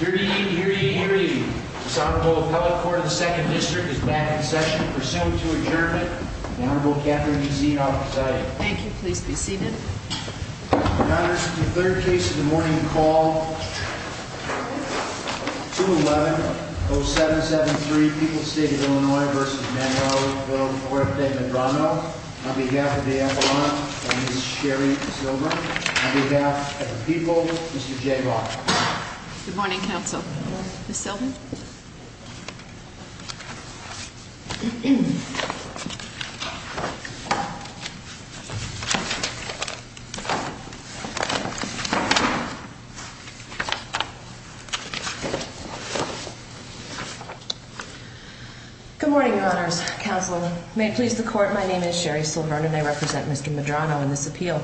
Here to eat, here to eat, here to eat, this Honorable Appellate Court of the 2nd District is back in session to pursue to adjournment. The Honorable Catherine E. Zina will preside. Thank you. Please be seated. Your Honor, this is the third case of the morning. Call 211-0773, People's State of Illinois v. Villafuerte-Medrano on behalf of the Appellant, Ms. Sherri Silver, on behalf of the people, Mr. Jay Roth. Good morning, Counsel. Ms. Silver? Good morning, Your Honors. Counsel, may it please the Court, my name is Sherri Silver and I represent Mr. Medrano in this appeal.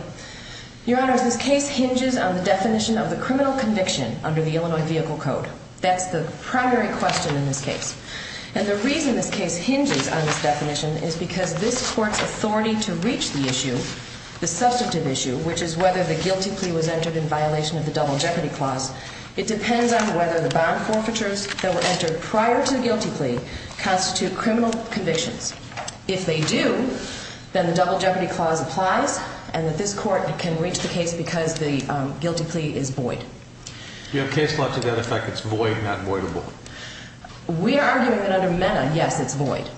Your Honors, this case hinges on the definition of the criminal conviction under the Illinois Vehicle Code. That's the primary question in this case. And the reason this case hinges on this definition is because this Court's authority to reach the issue, the substantive issue, which is whether the guilty plea was entered in violation of the Double Jeopardy Clause, it depends on whether the bond forfeitures that were entered prior to the guilty plea constitute criminal convictions. If they do, then the Double Jeopardy Clause applies and that this Court can reach the case because the guilty plea is void. Do you have case law to that effect? It's void, not voidable? We are arguing that under MENA, yes, it's void.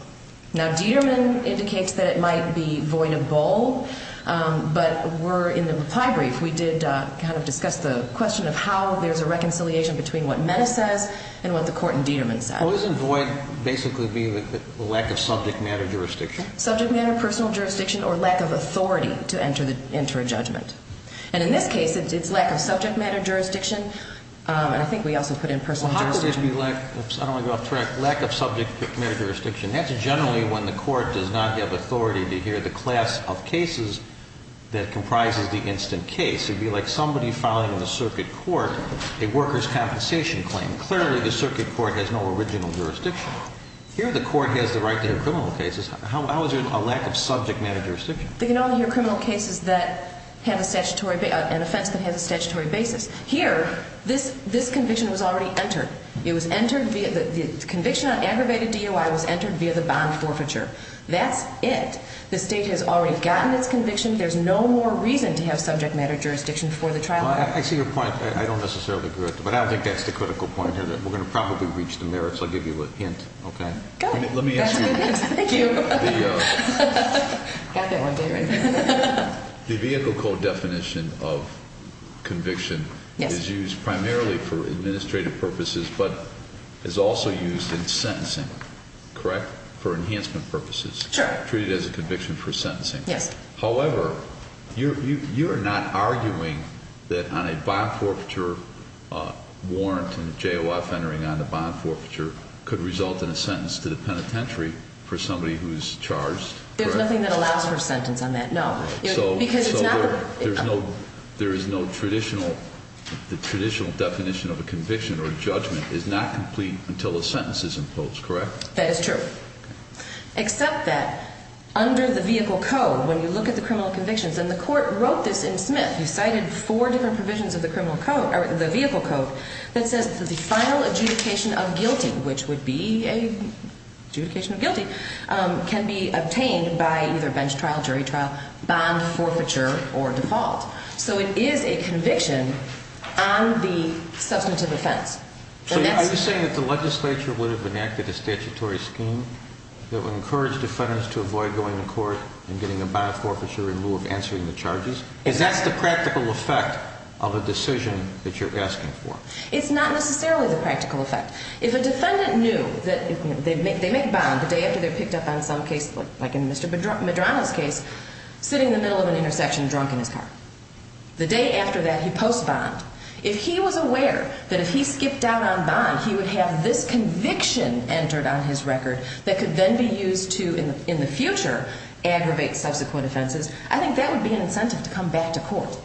Now, Dieterman indicates that it might be voidable, but we're in the reply brief. We did kind of discuss the question of how there's a reconciliation between what MENA says and what the Court in Dieterman says. Well, isn't void basically being the lack of subject matter jurisdiction? Subject matter, personal jurisdiction, or lack of authority to enter a judgment. And in this case, it's lack of subject matter jurisdiction, and I think we also put in personal jurisdiction. Well, how could it be lack of subject matter jurisdiction? That's generally when the Court does not have authority to hear the class of cases that comprises the instant case. It would be like somebody filing in the circuit court a worker's compensation claim. Clearly, the circuit court has no original jurisdiction. Here, the Court has the right to hear criminal cases. How is there a lack of subject matter jurisdiction? They can only hear criminal cases that have an offense that has a statutory basis. Here, this conviction was already entered. The conviction on aggravated DOI was entered via the bond forfeiture. That's it. The State has already gotten its conviction. There's no more reason to have subject matter jurisdiction for the trial. I see your point. I don't necessarily agree with it, but I don't think that's the critical point here. We're going to probably reach the merits. I'll give you a hint. Okay. Go ahead. Let me ask you. Thank you. Got that one, David. The vehicle code definition of conviction is used primarily for administrative purposes but is also used in sentencing, correct? For enhancement purposes. Sure. Treated as a conviction for sentencing. Yes. However, you're not arguing that on a bond forfeiture warrant and a JOF entering on the bond forfeiture could result in a sentence to the penitentiary for somebody who's charged, correct? There's nothing that allows for a sentence on that, no. So there is no traditional definition of a conviction or a judgment is not complete until the sentence is imposed, correct? That is true. Except that under the vehicle code, when you look at the criminal convictions, and the court wrote this in Smith, you cited four different provisions of the vehicle code that says the final adjudication of guilty, which would be an adjudication of guilty, can be obtained by either bench trial, jury trial, bond forfeiture, or default. So it is a conviction on the substantive offense. So are you saying that the legislature would have enacted a statutory scheme that would encourage defendants to avoid going to court and getting a bond forfeiture in lieu of answering the charges? Is that the practical effect of a decision that you're asking for? It's not necessarily the practical effect. If a defendant knew that they make a bond the day after they're picked up on some case, like in Mr. Medrano's case, sitting in the middle of an intersection drunk in his car. The day after that, he posts bond. If he was aware that if he skipped out on bond, he would have this conviction entered on his record that could then be used to, in the future, aggravate subsequent offenses, I think that would be an incentive to come back to court,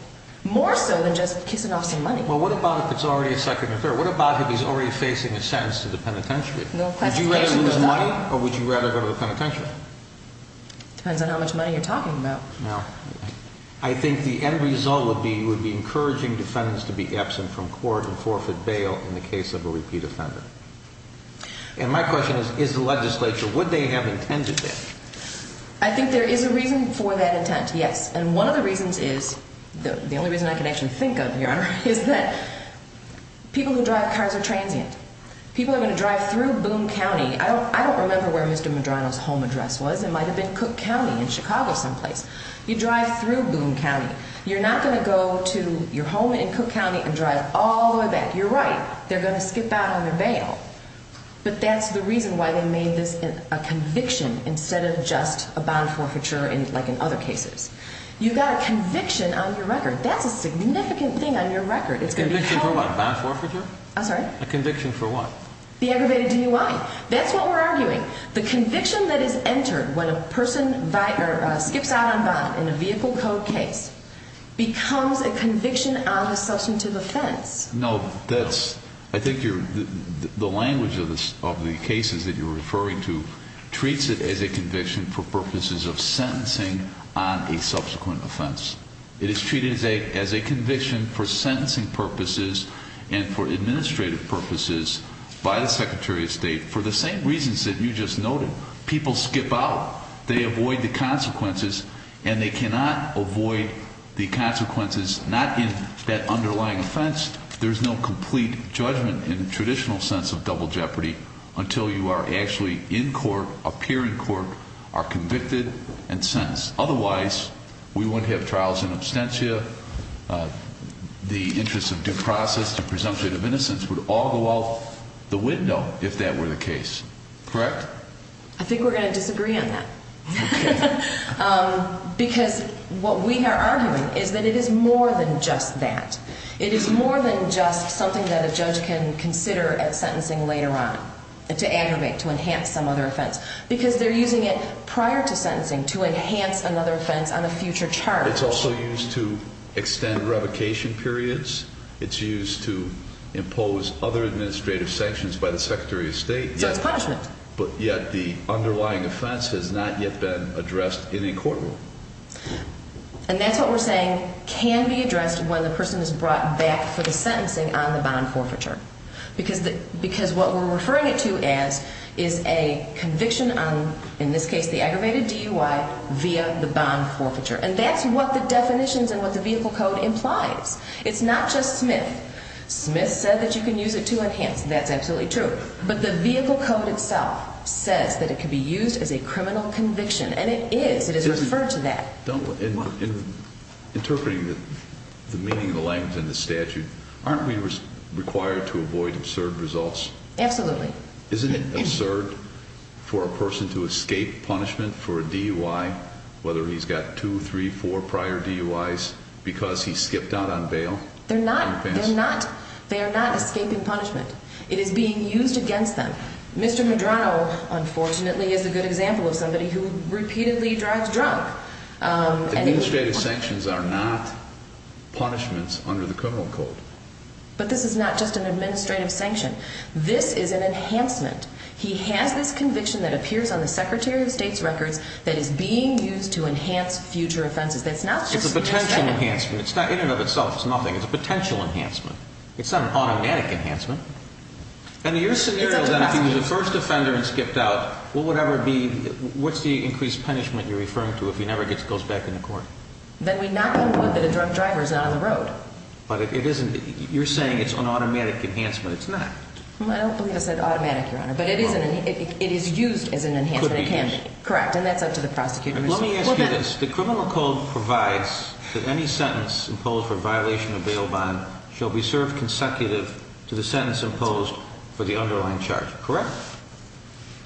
more so than just kissing off some money. Well, what about if it's already a second or third? What about if he's already facing a sentence to the penitentiary? Would you rather lose money, or would you rather go to the penitentiary? Depends on how much money you're talking about. Now, I think the end result would be you would be encouraging defendants to be absent from court and forfeit bail in the case of a repeat offender. And my question is, is the legislature, would they have intended that? I think there is a reason for that intent, yes. And one of the reasons is, the only reason I can actually think of, Your Honor, is that people who drive cars are transient. People are going to drive through Boone County. I don't remember where Mr. Medrano's home address was. It might have been Cook County in Chicago someplace. You drive through Boone County. You're not going to go to your home in Cook County and drive all the way back. You're right. They're going to skip out on your bail. But that's the reason why they made this a conviction instead of just a bond forfeiture like in other cases. You've got a conviction on your record. That's a significant thing on your record. A conviction for what? A bond forfeiture? I'm sorry? A conviction for what? The aggravated DUI. That's what we're arguing. The conviction that is entered when a person skips out on bond in a vehicle code case becomes a conviction on a substantive offense. No, I think the language of the cases that you're referring to treats it as a conviction for purposes of sentencing on a subsequent offense. It is treated as a conviction for sentencing purposes and for administrative purposes by the Secretary of State for the same reasons that you just noted. People skip out. They avoid the consequences. And they cannot avoid the consequences not in that underlying offense. There's no complete judgment in the traditional sense of double jeopardy until you are actually in court, appear in court, are convicted, and sentenced. Otherwise, we wouldn't have trials in absentia. The interests of due process and presumption of innocence would all go out the window if that were the case. Correct? I think we're going to disagree on that. Because what we are arguing is that it is more than just that. It is more than just something that a judge can consider at sentencing later on to aggravate, to enhance some other offense. Because they're using it prior to sentencing to enhance another offense on a future charge. It's also used to extend revocation periods. It's used to impose other administrative sanctions by the Secretary of State. So it's punishment. But yet the underlying offense has not yet been addressed in a courtroom. And that's what we're saying can be addressed when the person is brought back for the sentencing on the bond forfeiture. Because what we're referring it to as is a conviction on, in this case, the aggravated DUI via the bond forfeiture. And that's what the definitions and what the vehicle code implies. It's not just Smith. Smith said that you can use it to enhance. That's absolutely true. But the vehicle code itself says that it can be used as a criminal conviction. And it is. It is referred to that. Interpreting the meaning of the language in the statute, aren't we required to avoid absurd results? Absolutely. Isn't it absurd for a person to escape punishment for a DUI, whether he's got two, three, four prior DUIs, because he skipped out on bail? They're not. They're not. They are not escaping punishment. It is being used against them. Mr. Medrano, unfortunately, is a good example of somebody who repeatedly drives drunk. Administrative sanctions are not punishments under the criminal code. But this is not just an administrative sanction. This is an enhancement. He has this conviction that appears on the Secretary of State's records that is being used to enhance future offenses. It's a potential enhancement. In and of itself, it's nothing. It's a potential enhancement. It's not an automatic enhancement. And in your scenario, then, if he was a first offender and skipped out, what's the increased punishment you're referring to if he never goes back into court? Then we knock on wood that a drunk driver is not on the road. But it isn't. You're saying it's an automatic enhancement. It's not. I don't believe I said automatic, Your Honor, but it is used as an enhancement. It could be used. Correct. And that's up to the prosecutor. Let me ask you this. The criminal code provides that any sentence imposed for violation of bail bond shall be served consecutive to the sentence imposed for the underlying charge. Correct?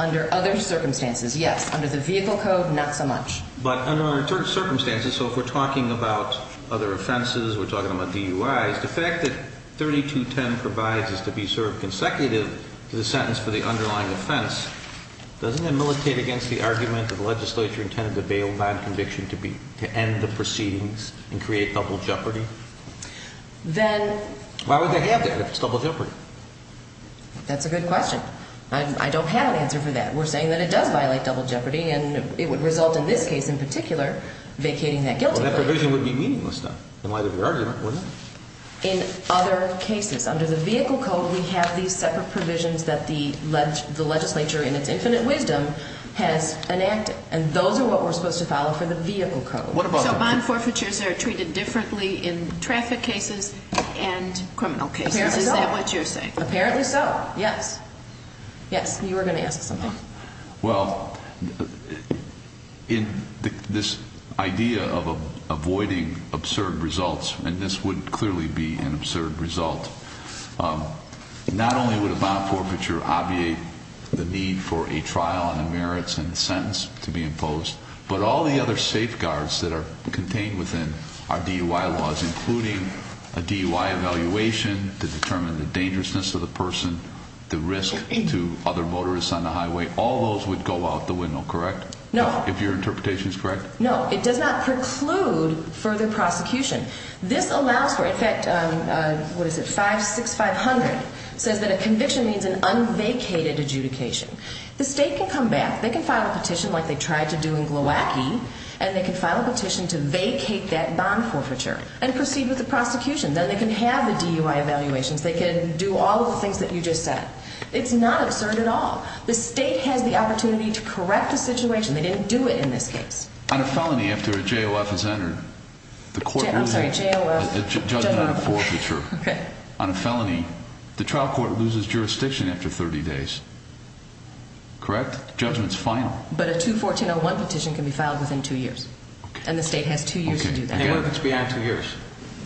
Under other circumstances, yes. Under the vehicle code, not so much. But under certain circumstances, so if we're talking about other offenses, we're talking about DUIs, the fact that 3210 provides is to be served consecutive to the sentence for the underlying offense, doesn't that militate against the argument that the legislature intended the bail bond conviction to end the proceedings and create double jeopardy? Then... Why would they have that if it's double jeopardy? That's a good question. I don't have an answer for that. We're saying that it does violate double jeopardy, and it would result in this case in particular vacating that guilty plea. Well, that provision would be meaningless, then, in light of your argument, wouldn't it? In other cases. Under the vehicle code, we have these separate provisions that the legislature, in its infinite wisdom, has enacted. And those are what we're supposed to follow for the vehicle code. So bond forfeitures are treated differently in traffic cases and criminal cases. Is that what you're saying? Apparently so. Apparently so, yes. Yes, you were going to ask something. Well, in this idea of avoiding absurd results, and this would clearly be an absurd result, not only would a bond forfeiture obviate the need for a trial and a merits and a sentence to be imposed, but all the other safeguards that are contained within our DUI laws, including a DUI evaluation to determine the dangerousness of the person, the risk to other motorists on the highway, all those would go out the window, correct? No. If your interpretation is correct? No, it does not preclude further prosecution. This allows for, in fact, what is it, 6500 says that a conviction means an unvacated adjudication. The state can come back, they can file a petition like they tried to do in Milwaukee, and they can file a petition to vacate that bond forfeiture and proceed with the prosecution. Then they can have the DUI evaluations. They can do all of the things that you just said. It's not absurd at all. The state has the opportunity to correct the situation. They didn't do it in this case. On a felony, after a JOF is entered, the court loses the judgment of forfeiture. On a felony, the trial court loses jurisdiction after 30 days, correct? Judgment's final. But a 214-01 petition can be filed within two years, and the state has two years to do that. And what if it's beyond two years?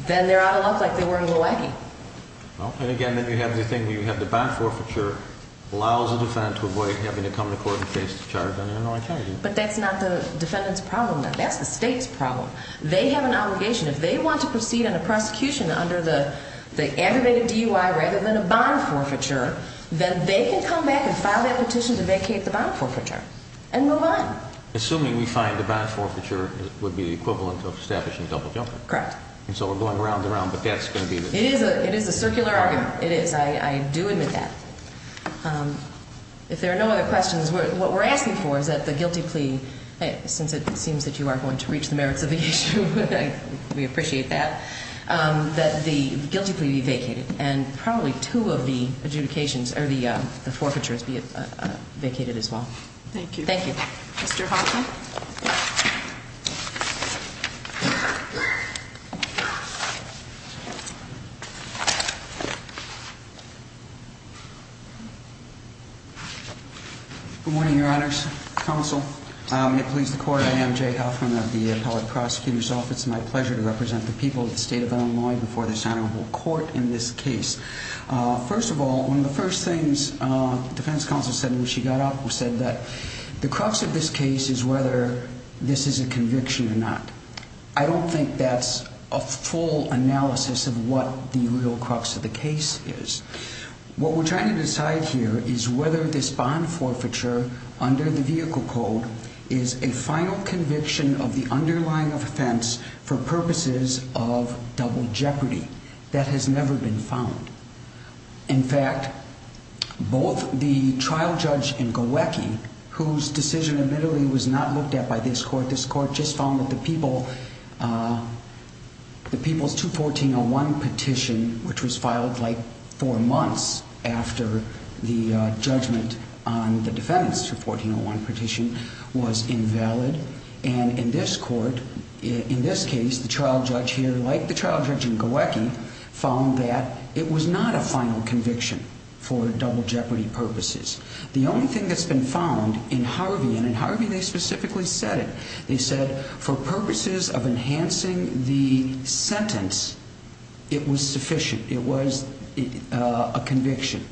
Then they ought to look like they were in Milwaukee. And, again, then you have the thing where you have the bond forfeiture, allows the defendant to avoid having to come to court and face the charge on an unlawful charge. But that's not the defendant's problem. That's the state's problem. They have an obligation. If they want to proceed on a prosecution under the aggravated DUI rather than a bond forfeiture, then they can come back and file that petition to vacate the bond forfeiture and move on. Assuming we find the bond forfeiture would be the equivalent of establishing double jumping. Correct. And so we're going round and round, but that's going to be the case. It is a circular argument. It is. I do admit that. If there are no other questions, what we're asking for is that the guilty plea, since it seems that you are going to reach the merits of the issue, we appreciate that, that the guilty plea be vacated and probably two of the adjudications or the forfeitures be vacated as well. Thank you. Thank you. Mr. Hoffman. Good morning, Your Honors. Counsel. May it please the Court, I am Jay Hoffman of the Appellate Prosecutor's Office. It's my pleasure to represent the people of the state of Illinois before this honorable court in this case. First of all, one of the first things the defense counsel said when she got up was that the crux of this case is whether this is a conviction or not. I don't think that's a full analysis of what the real crux of the case is. What we're trying to decide here is whether this bond forfeiture under the vehicle code is a final conviction of the underlying offense for purposes of double jeopardy. That has never been found. In fact, both the trial judge in Gawacki, whose decision admittedly was not looked at by this court, this court just found that the people's 214.01 petition, which was filed like four months after the judgment on the defendants' 214.01 petition, was invalid. And in this court, in this case, the trial judge here, like the trial judge in Gawacki, found that it was not a final conviction for double jeopardy purposes. The only thing that's been found in Harvey, and in Harvey they specifically said it, they said for purposes of enhancing the sentence, it was sufficient. It was a conviction.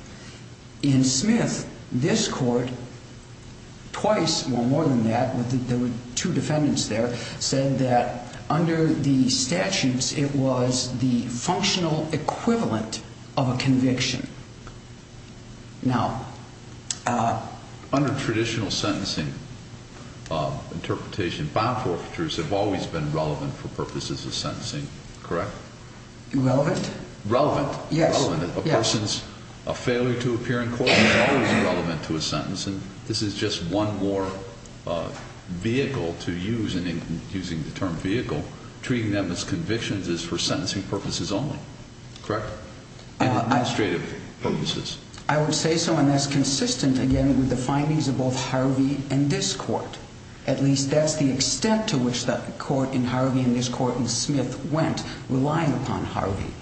In Smith, this court, twice or more than that, there were two defendants there, said that under the statutes it was the functional equivalent of a conviction. Now, under traditional sentencing interpretation, bond forfeitures have always been relevant for purposes of sentencing, correct? Relevant? Relevant. Yes. A person's failure to appear in court is always relevant to a sentence, and this is just one more vehicle to use, and in using the term vehicle, treating them as convictions is for sentencing purposes only, correct? Administrative purposes. I would say so, and that's consistent, again, with the findings of both Harvey and this court. At least that's the extent to which the court in Harvey and this court in Smith went, relying upon Harvey.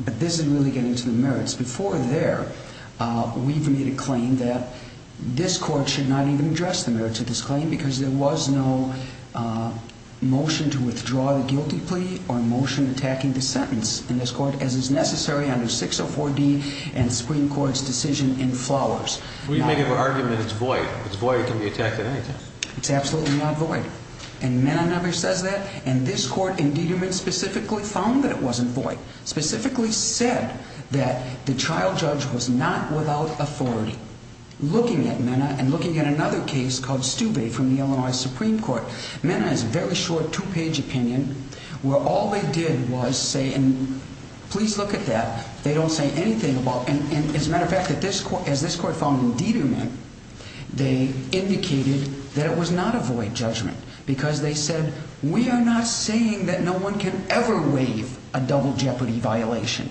But this is really getting to the merits. Before there, we've made a claim that this court should not even address the merits of this claim because there was no motion to withdraw the guilty plea or motion attacking the sentence in this court, as is necessary under 604D and the Supreme Court's decision in Flowers. We've made an argument it's void. It's void. It can be attacked at any time. It's absolutely not void, and Mena never says that, and this court in Dieterman specifically found that it wasn't void, specifically said that the trial judge was not without authority. Looking at Mena and looking at another case called Stube from the Illinois Supreme Court, Mena has a very short two-page opinion where all they did was say, and please look at that, they don't say anything about, and as a matter of fact, as this court found in Dieterman, they indicated that it was not a void judgment because they said, we are not saying that no one can ever waive a double jeopardy violation.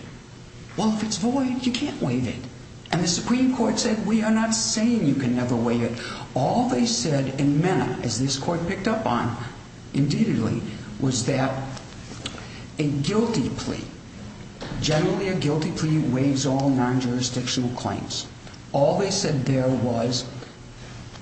Well, if it's void, you can't waive it. And the Supreme Court said, we are not saying you can never waive it. All they said in Mena, as this court picked up on indeedly, was that a guilty plea, generally a guilty plea waives all non-jurisdictional claims. All they said there was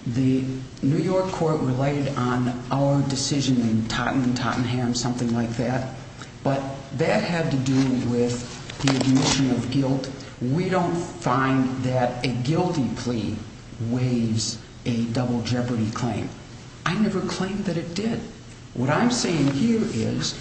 the New York court related on our decision in Tottenham, something like that, but that had to do with the admission of guilt. We don't find that a guilty plea waives a double jeopardy claim. I never claimed that it did. What I'm saying here is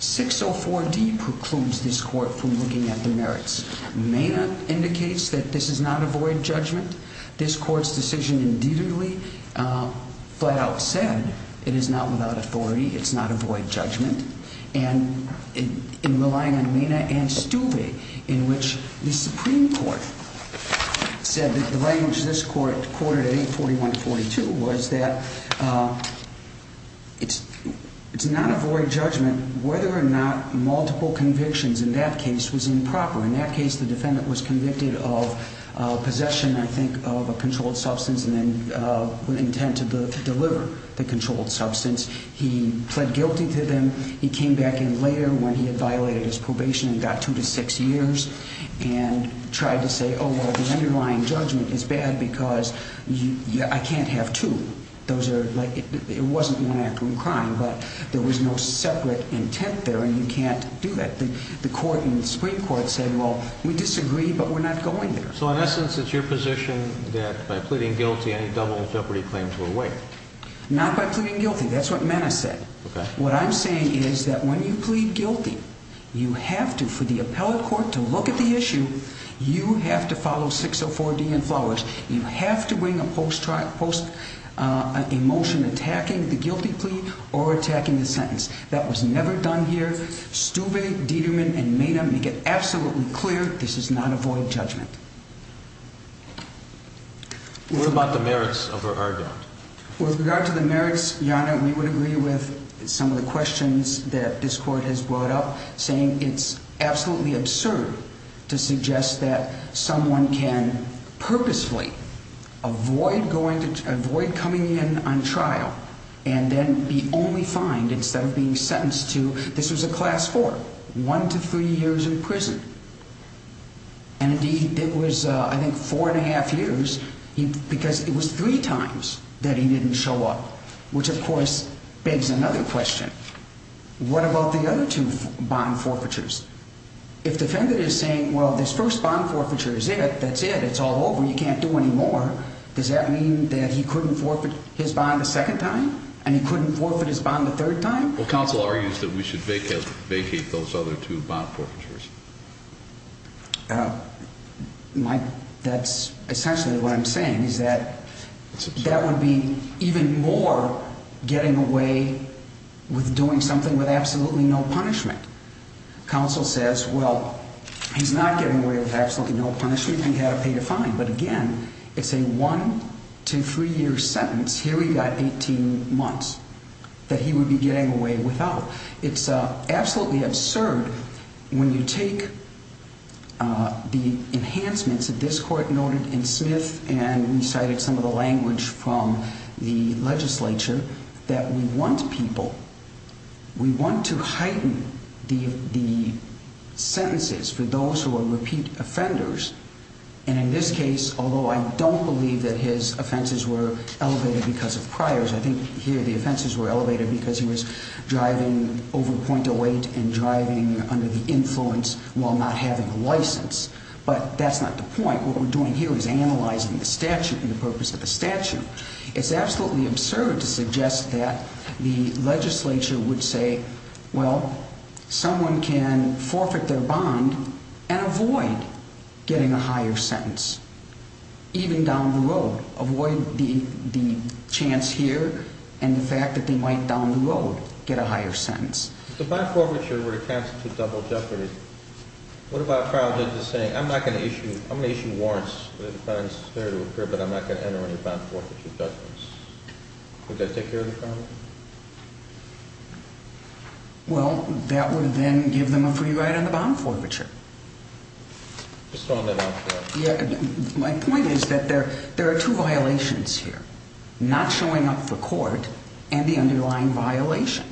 604D precludes this court from looking at the merits. Mena indicates that this is not a void judgment. This court's decision indeedly, flat out said, it is not without authority. It's not a void judgment. And in relying on Mena and Stuve, in which the Supreme Court said that the language this court quoted at 841-42 was that it's not a void judgment whether or not multiple convictions in that case was improper. In that case, the defendant was convicted of possession, I think, of a controlled substance and then with intent to deliver the controlled substance. He pled guilty to them. He came back in later when he had violated his probation and got two to six years and tried to say, oh, well, the underlying judgment is bad because I can't have two. Those are like, it wasn't one act of crime, but there was no separate intent there and you can't do that. The court in the Supreme Court said, well, we disagree, but we're not going there. So in essence, it's your position that by pleading guilty, any double jeopardy claims were waived. Not by pleading guilty. That's what Mena said. What I'm saying is that when you plead guilty, you have to, for the appellate court to look at the issue, you have to follow 604-D and Flowers. You have to bring a post-emotion attacking the guilty plea or attacking the sentence. That was never done here. Stuve, Dieterman, and Mena make it absolutely clear this is not a void judgment. What about the merits of her argument? With regard to the merits, Your Honor, we would agree with some of the questions that this court has brought up, saying it's absolutely absurd to suggest that someone can purposefully avoid coming in on trial and then be only fined instead of being sentenced to, this was a class four, one to three years in prison. And, indeed, it was, I think, four and a half years because it was three times that he didn't show up, which, of course, begs another question. What about the other two bond forfeitures? If the defendant is saying, well, this first bond forfeiture is it, that's it, it's all over, you can't do any more, does that mean that he couldn't forfeit his bond a second time and he couldn't forfeit his bond a third time? Well, counsel argues that we should vacate those other two bond forfeitures. That's essentially what I'm saying is that that would be even more getting away with doing something with absolutely no punishment. Counsel says, well, he's not getting away with absolutely no punishment, he's going to have to pay the fine. But, again, it's a one to three year sentence. Here we've got 18 months that he would be getting away without. It's absolutely absurd when you take the enhancements that this court noted in Smith and we cited some of the language from the legislature that we want people, we want to heighten the sentences for those who are repeat offenders. And in this case, although I don't believe that his offenses were elevated because of priors, I think here the offenses were elevated because he was driving over .08 and driving under the influence while not having a license. But that's not the point. What we're doing here is analyzing the statute and the purpose of the statute. It's absolutely absurd to suggest that the legislature would say, well, someone can forfeit their bond and avoid getting a higher sentence, even down the road, avoid the chance here and the fact that they might down the road get a higher sentence. If the bond forfeiture were to constitute double jeopardy, what about a trial judge saying, I'm not going to issue warrants, but I'm not going to enter into bond forfeiture judgments? Would that take care of the problem? Well, that would then give them a free ride on the bond forfeiture. My point is that there are two violations here, not showing up for court and the underlying violation.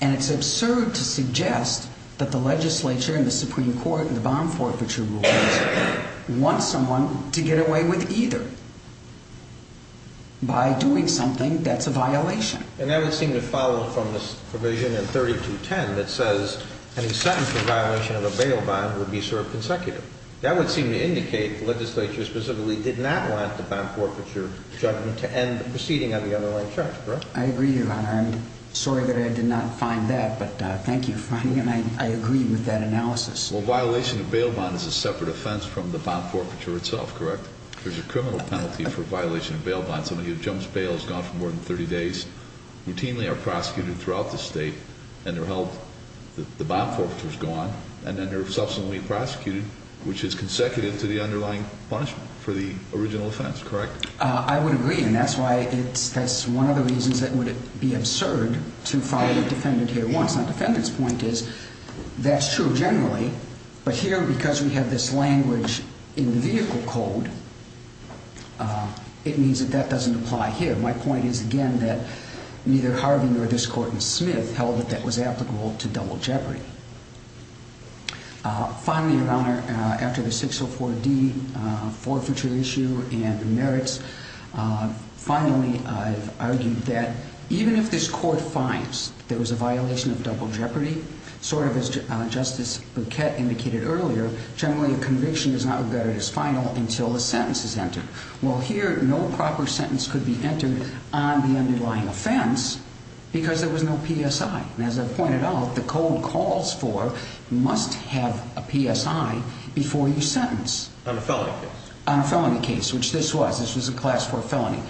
And it's absurd to suggest that the legislature and the Supreme Court and the bond forfeiture rules want someone to get away with either. By doing something that's a violation. And that would seem to follow from this provision in 3210 that says any sentence for violation of a bail bond would be served consecutive. That would seem to indicate the legislature specifically did not want the bond forfeiture judgment to end the proceeding on the underlying charge, correct? I agree, Your Honor. I'm sorry that I did not find that, but thank you for finding it. I agree with that analysis. Well, violation of bail bond is a separate offense from the bond forfeiture itself, correct? There's a criminal penalty for violation of bail bond. Somebody who jumps bail is gone for more than 30 days, routinely are prosecuted throughout the state, and they're held. The bond forfeiture is gone, and then they're subsequently prosecuted, which is consecutive to the underlying punishment for the original offense, correct? I would agree, and that's why it's, that's one of the reasons that would be absurd to follow the defendant here once. The defendant's point is that's true generally, but here because we have this language in the vehicle code, it means that that doesn't apply here. My point is, again, that neither Harvin nor this court in Smith held that that was applicable to double jeopardy. Finally, Your Honor, after the 604D forfeiture issue and the merits, finally I've argued that even if this court finds there was a violation of double jeopardy, sort of as Justice Buquette indicated earlier, generally a conviction is not regarded as final until the sentence is entered. Well, here no proper sentence could be entered on the underlying offense because there was no PSI. As I pointed out, the code calls for must have a PSI before you sentence. On a felony case. On a felony case, which this was. This was a class 4 felony.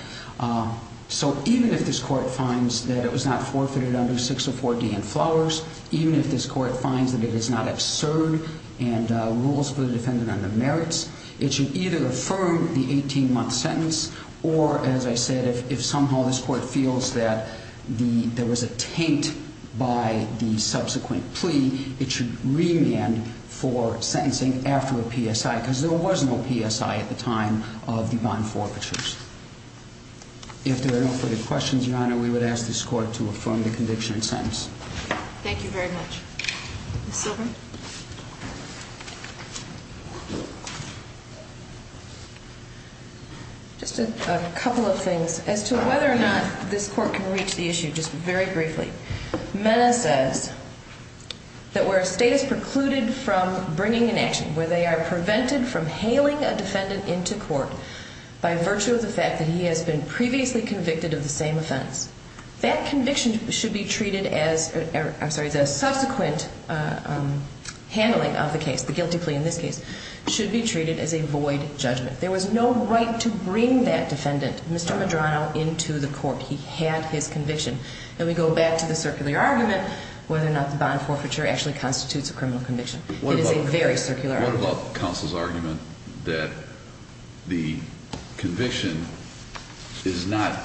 So even if this court finds that it was not forfeited under 604D and Flowers, even if this court finds that it is not absurd and rules for the defendant on the merits, it should either affirm the 18-month sentence or, as I said, if somehow this court feels that there was a taint by the subsequent plea, it should remand for sentencing after a PSI because there was no PSI at the time of the bond forfeitures. If there are no further questions, Your Honor, we would ask this court to affirm the conviction and sentence. Thank you very much. Ms. Silver? Just a couple of things. As to whether or not this court can reach the issue, just very briefly, Mena says that where a state is precluded from bringing an action, where they are prevented from hailing a defendant into court by virtue of the fact that he has been previously convicted of the same offense, that conviction should be treated as a subsequent handling of the case, the guilty plea in this case, should be treated as a void judgment. There was no right to bring that defendant, Mr. Medrano, into the court. He had his conviction. And we go back to the circular argument, whether or not the bond forfeiture actually constitutes a criminal conviction. It is a very circular argument. What about counsel's argument that the conviction is not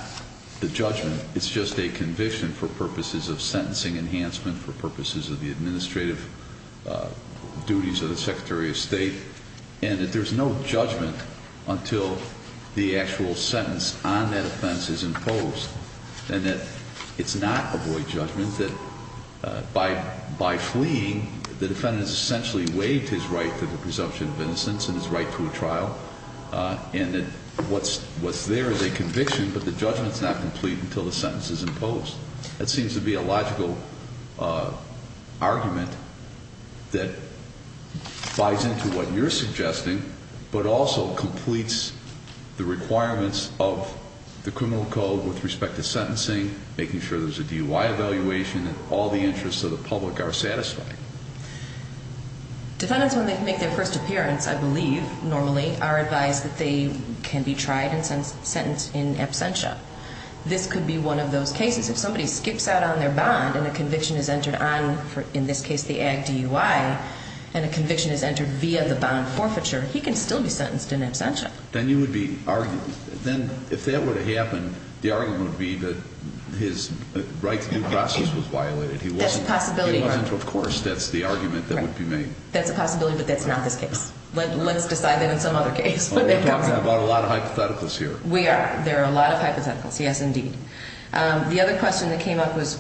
the judgment, it's just a conviction for purposes of sentencing enhancement, for purposes of the administrative duties of the Secretary of State, and that there's no judgment until the actual sentence on that offense is imposed, and that it's not a void judgment, that by fleeing, the defendant has essentially waived his right to the presumption of innocence and his right to a trial, and that what's there is a conviction, but the judgment's not complete until the sentence is imposed. That seems to be a logical argument that buys into what you're suggesting, but also completes the requirements of the criminal code with respect to sentencing, making sure there's a DUI evaluation and all the interests of the public are satisfied. Defendants, when they make their first appearance, I believe, normally, are advised that they can be tried and sentenced in absentia. This could be one of those cases. If somebody skips out on their bond and a conviction is entered on, in this case, the ag DUI, and a conviction is entered via the bond forfeiture, he can still be sentenced in absentia. Then you would be arguing, then if that were to happen, the argument would be that his right to due process was violated. That's a possibility. He wasn't. Of course, that's the argument that would be made. That's a possibility, but that's not this case. Let's decide that in some other case. We're talking about a lot of hypotheticals here. We are. There are a lot of hypotheticals. Yes, indeed. The other question that came up was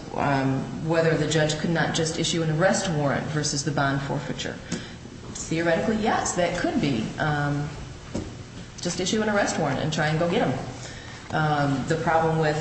whether the judge could not just issue an arrest warrant versus the bond forfeiture. Theoretically, yes, that could be. Just issue an arrest warrant and try and go get them. The problem with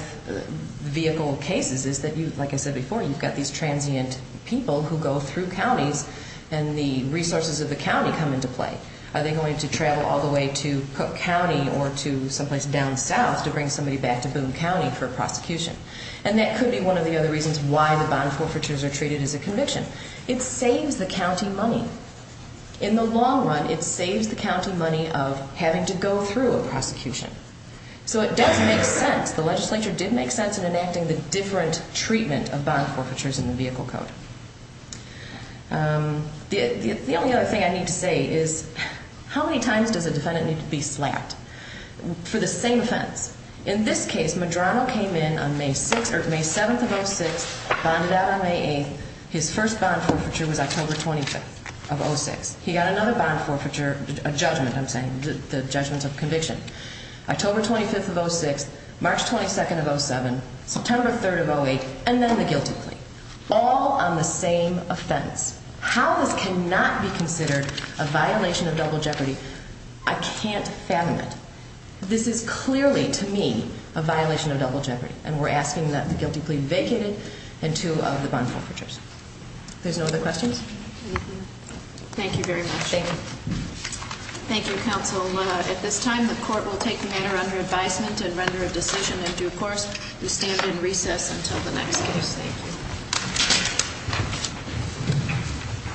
vehicle cases is that, like I said before, you've got these transient people who go through counties, and the resources of the county come into play. Are they going to travel all the way to Cook County or to someplace down south to bring somebody back to Boone County for prosecution? And that could be one of the other reasons why the bond forfeitures are treated as a conviction. It saves the county money. In the long run, it saves the county money of having to go through a prosecution. So it does make sense. The legislature did make sense in enacting the different treatment of bond forfeitures in the Vehicle Code. The only other thing I need to say is how many times does a defendant need to be slapped for the same offense? In this case, Madrano came in on May 7th of 06, bonded out on May 8th. His first bond forfeiture was October 25th of 06. He got another bond forfeiture, a judgment, I'm saying, the judgment of conviction. October 25th of 06, March 22nd of 07, September 3rd of 08, and then the guilty plea. All on the same offense. How this cannot be considered a violation of double jeopardy, I can't fathom it. This is clearly, to me, a violation of double jeopardy. And we're asking that the guilty plea be vacated and two of the bond forfeitures. There's no other questions? Thank you very much. Thank you. Thank you, counsel. At this time, the court will take the matter under advisement and render a decision in due course. We stand in recess until the next case. Thank you.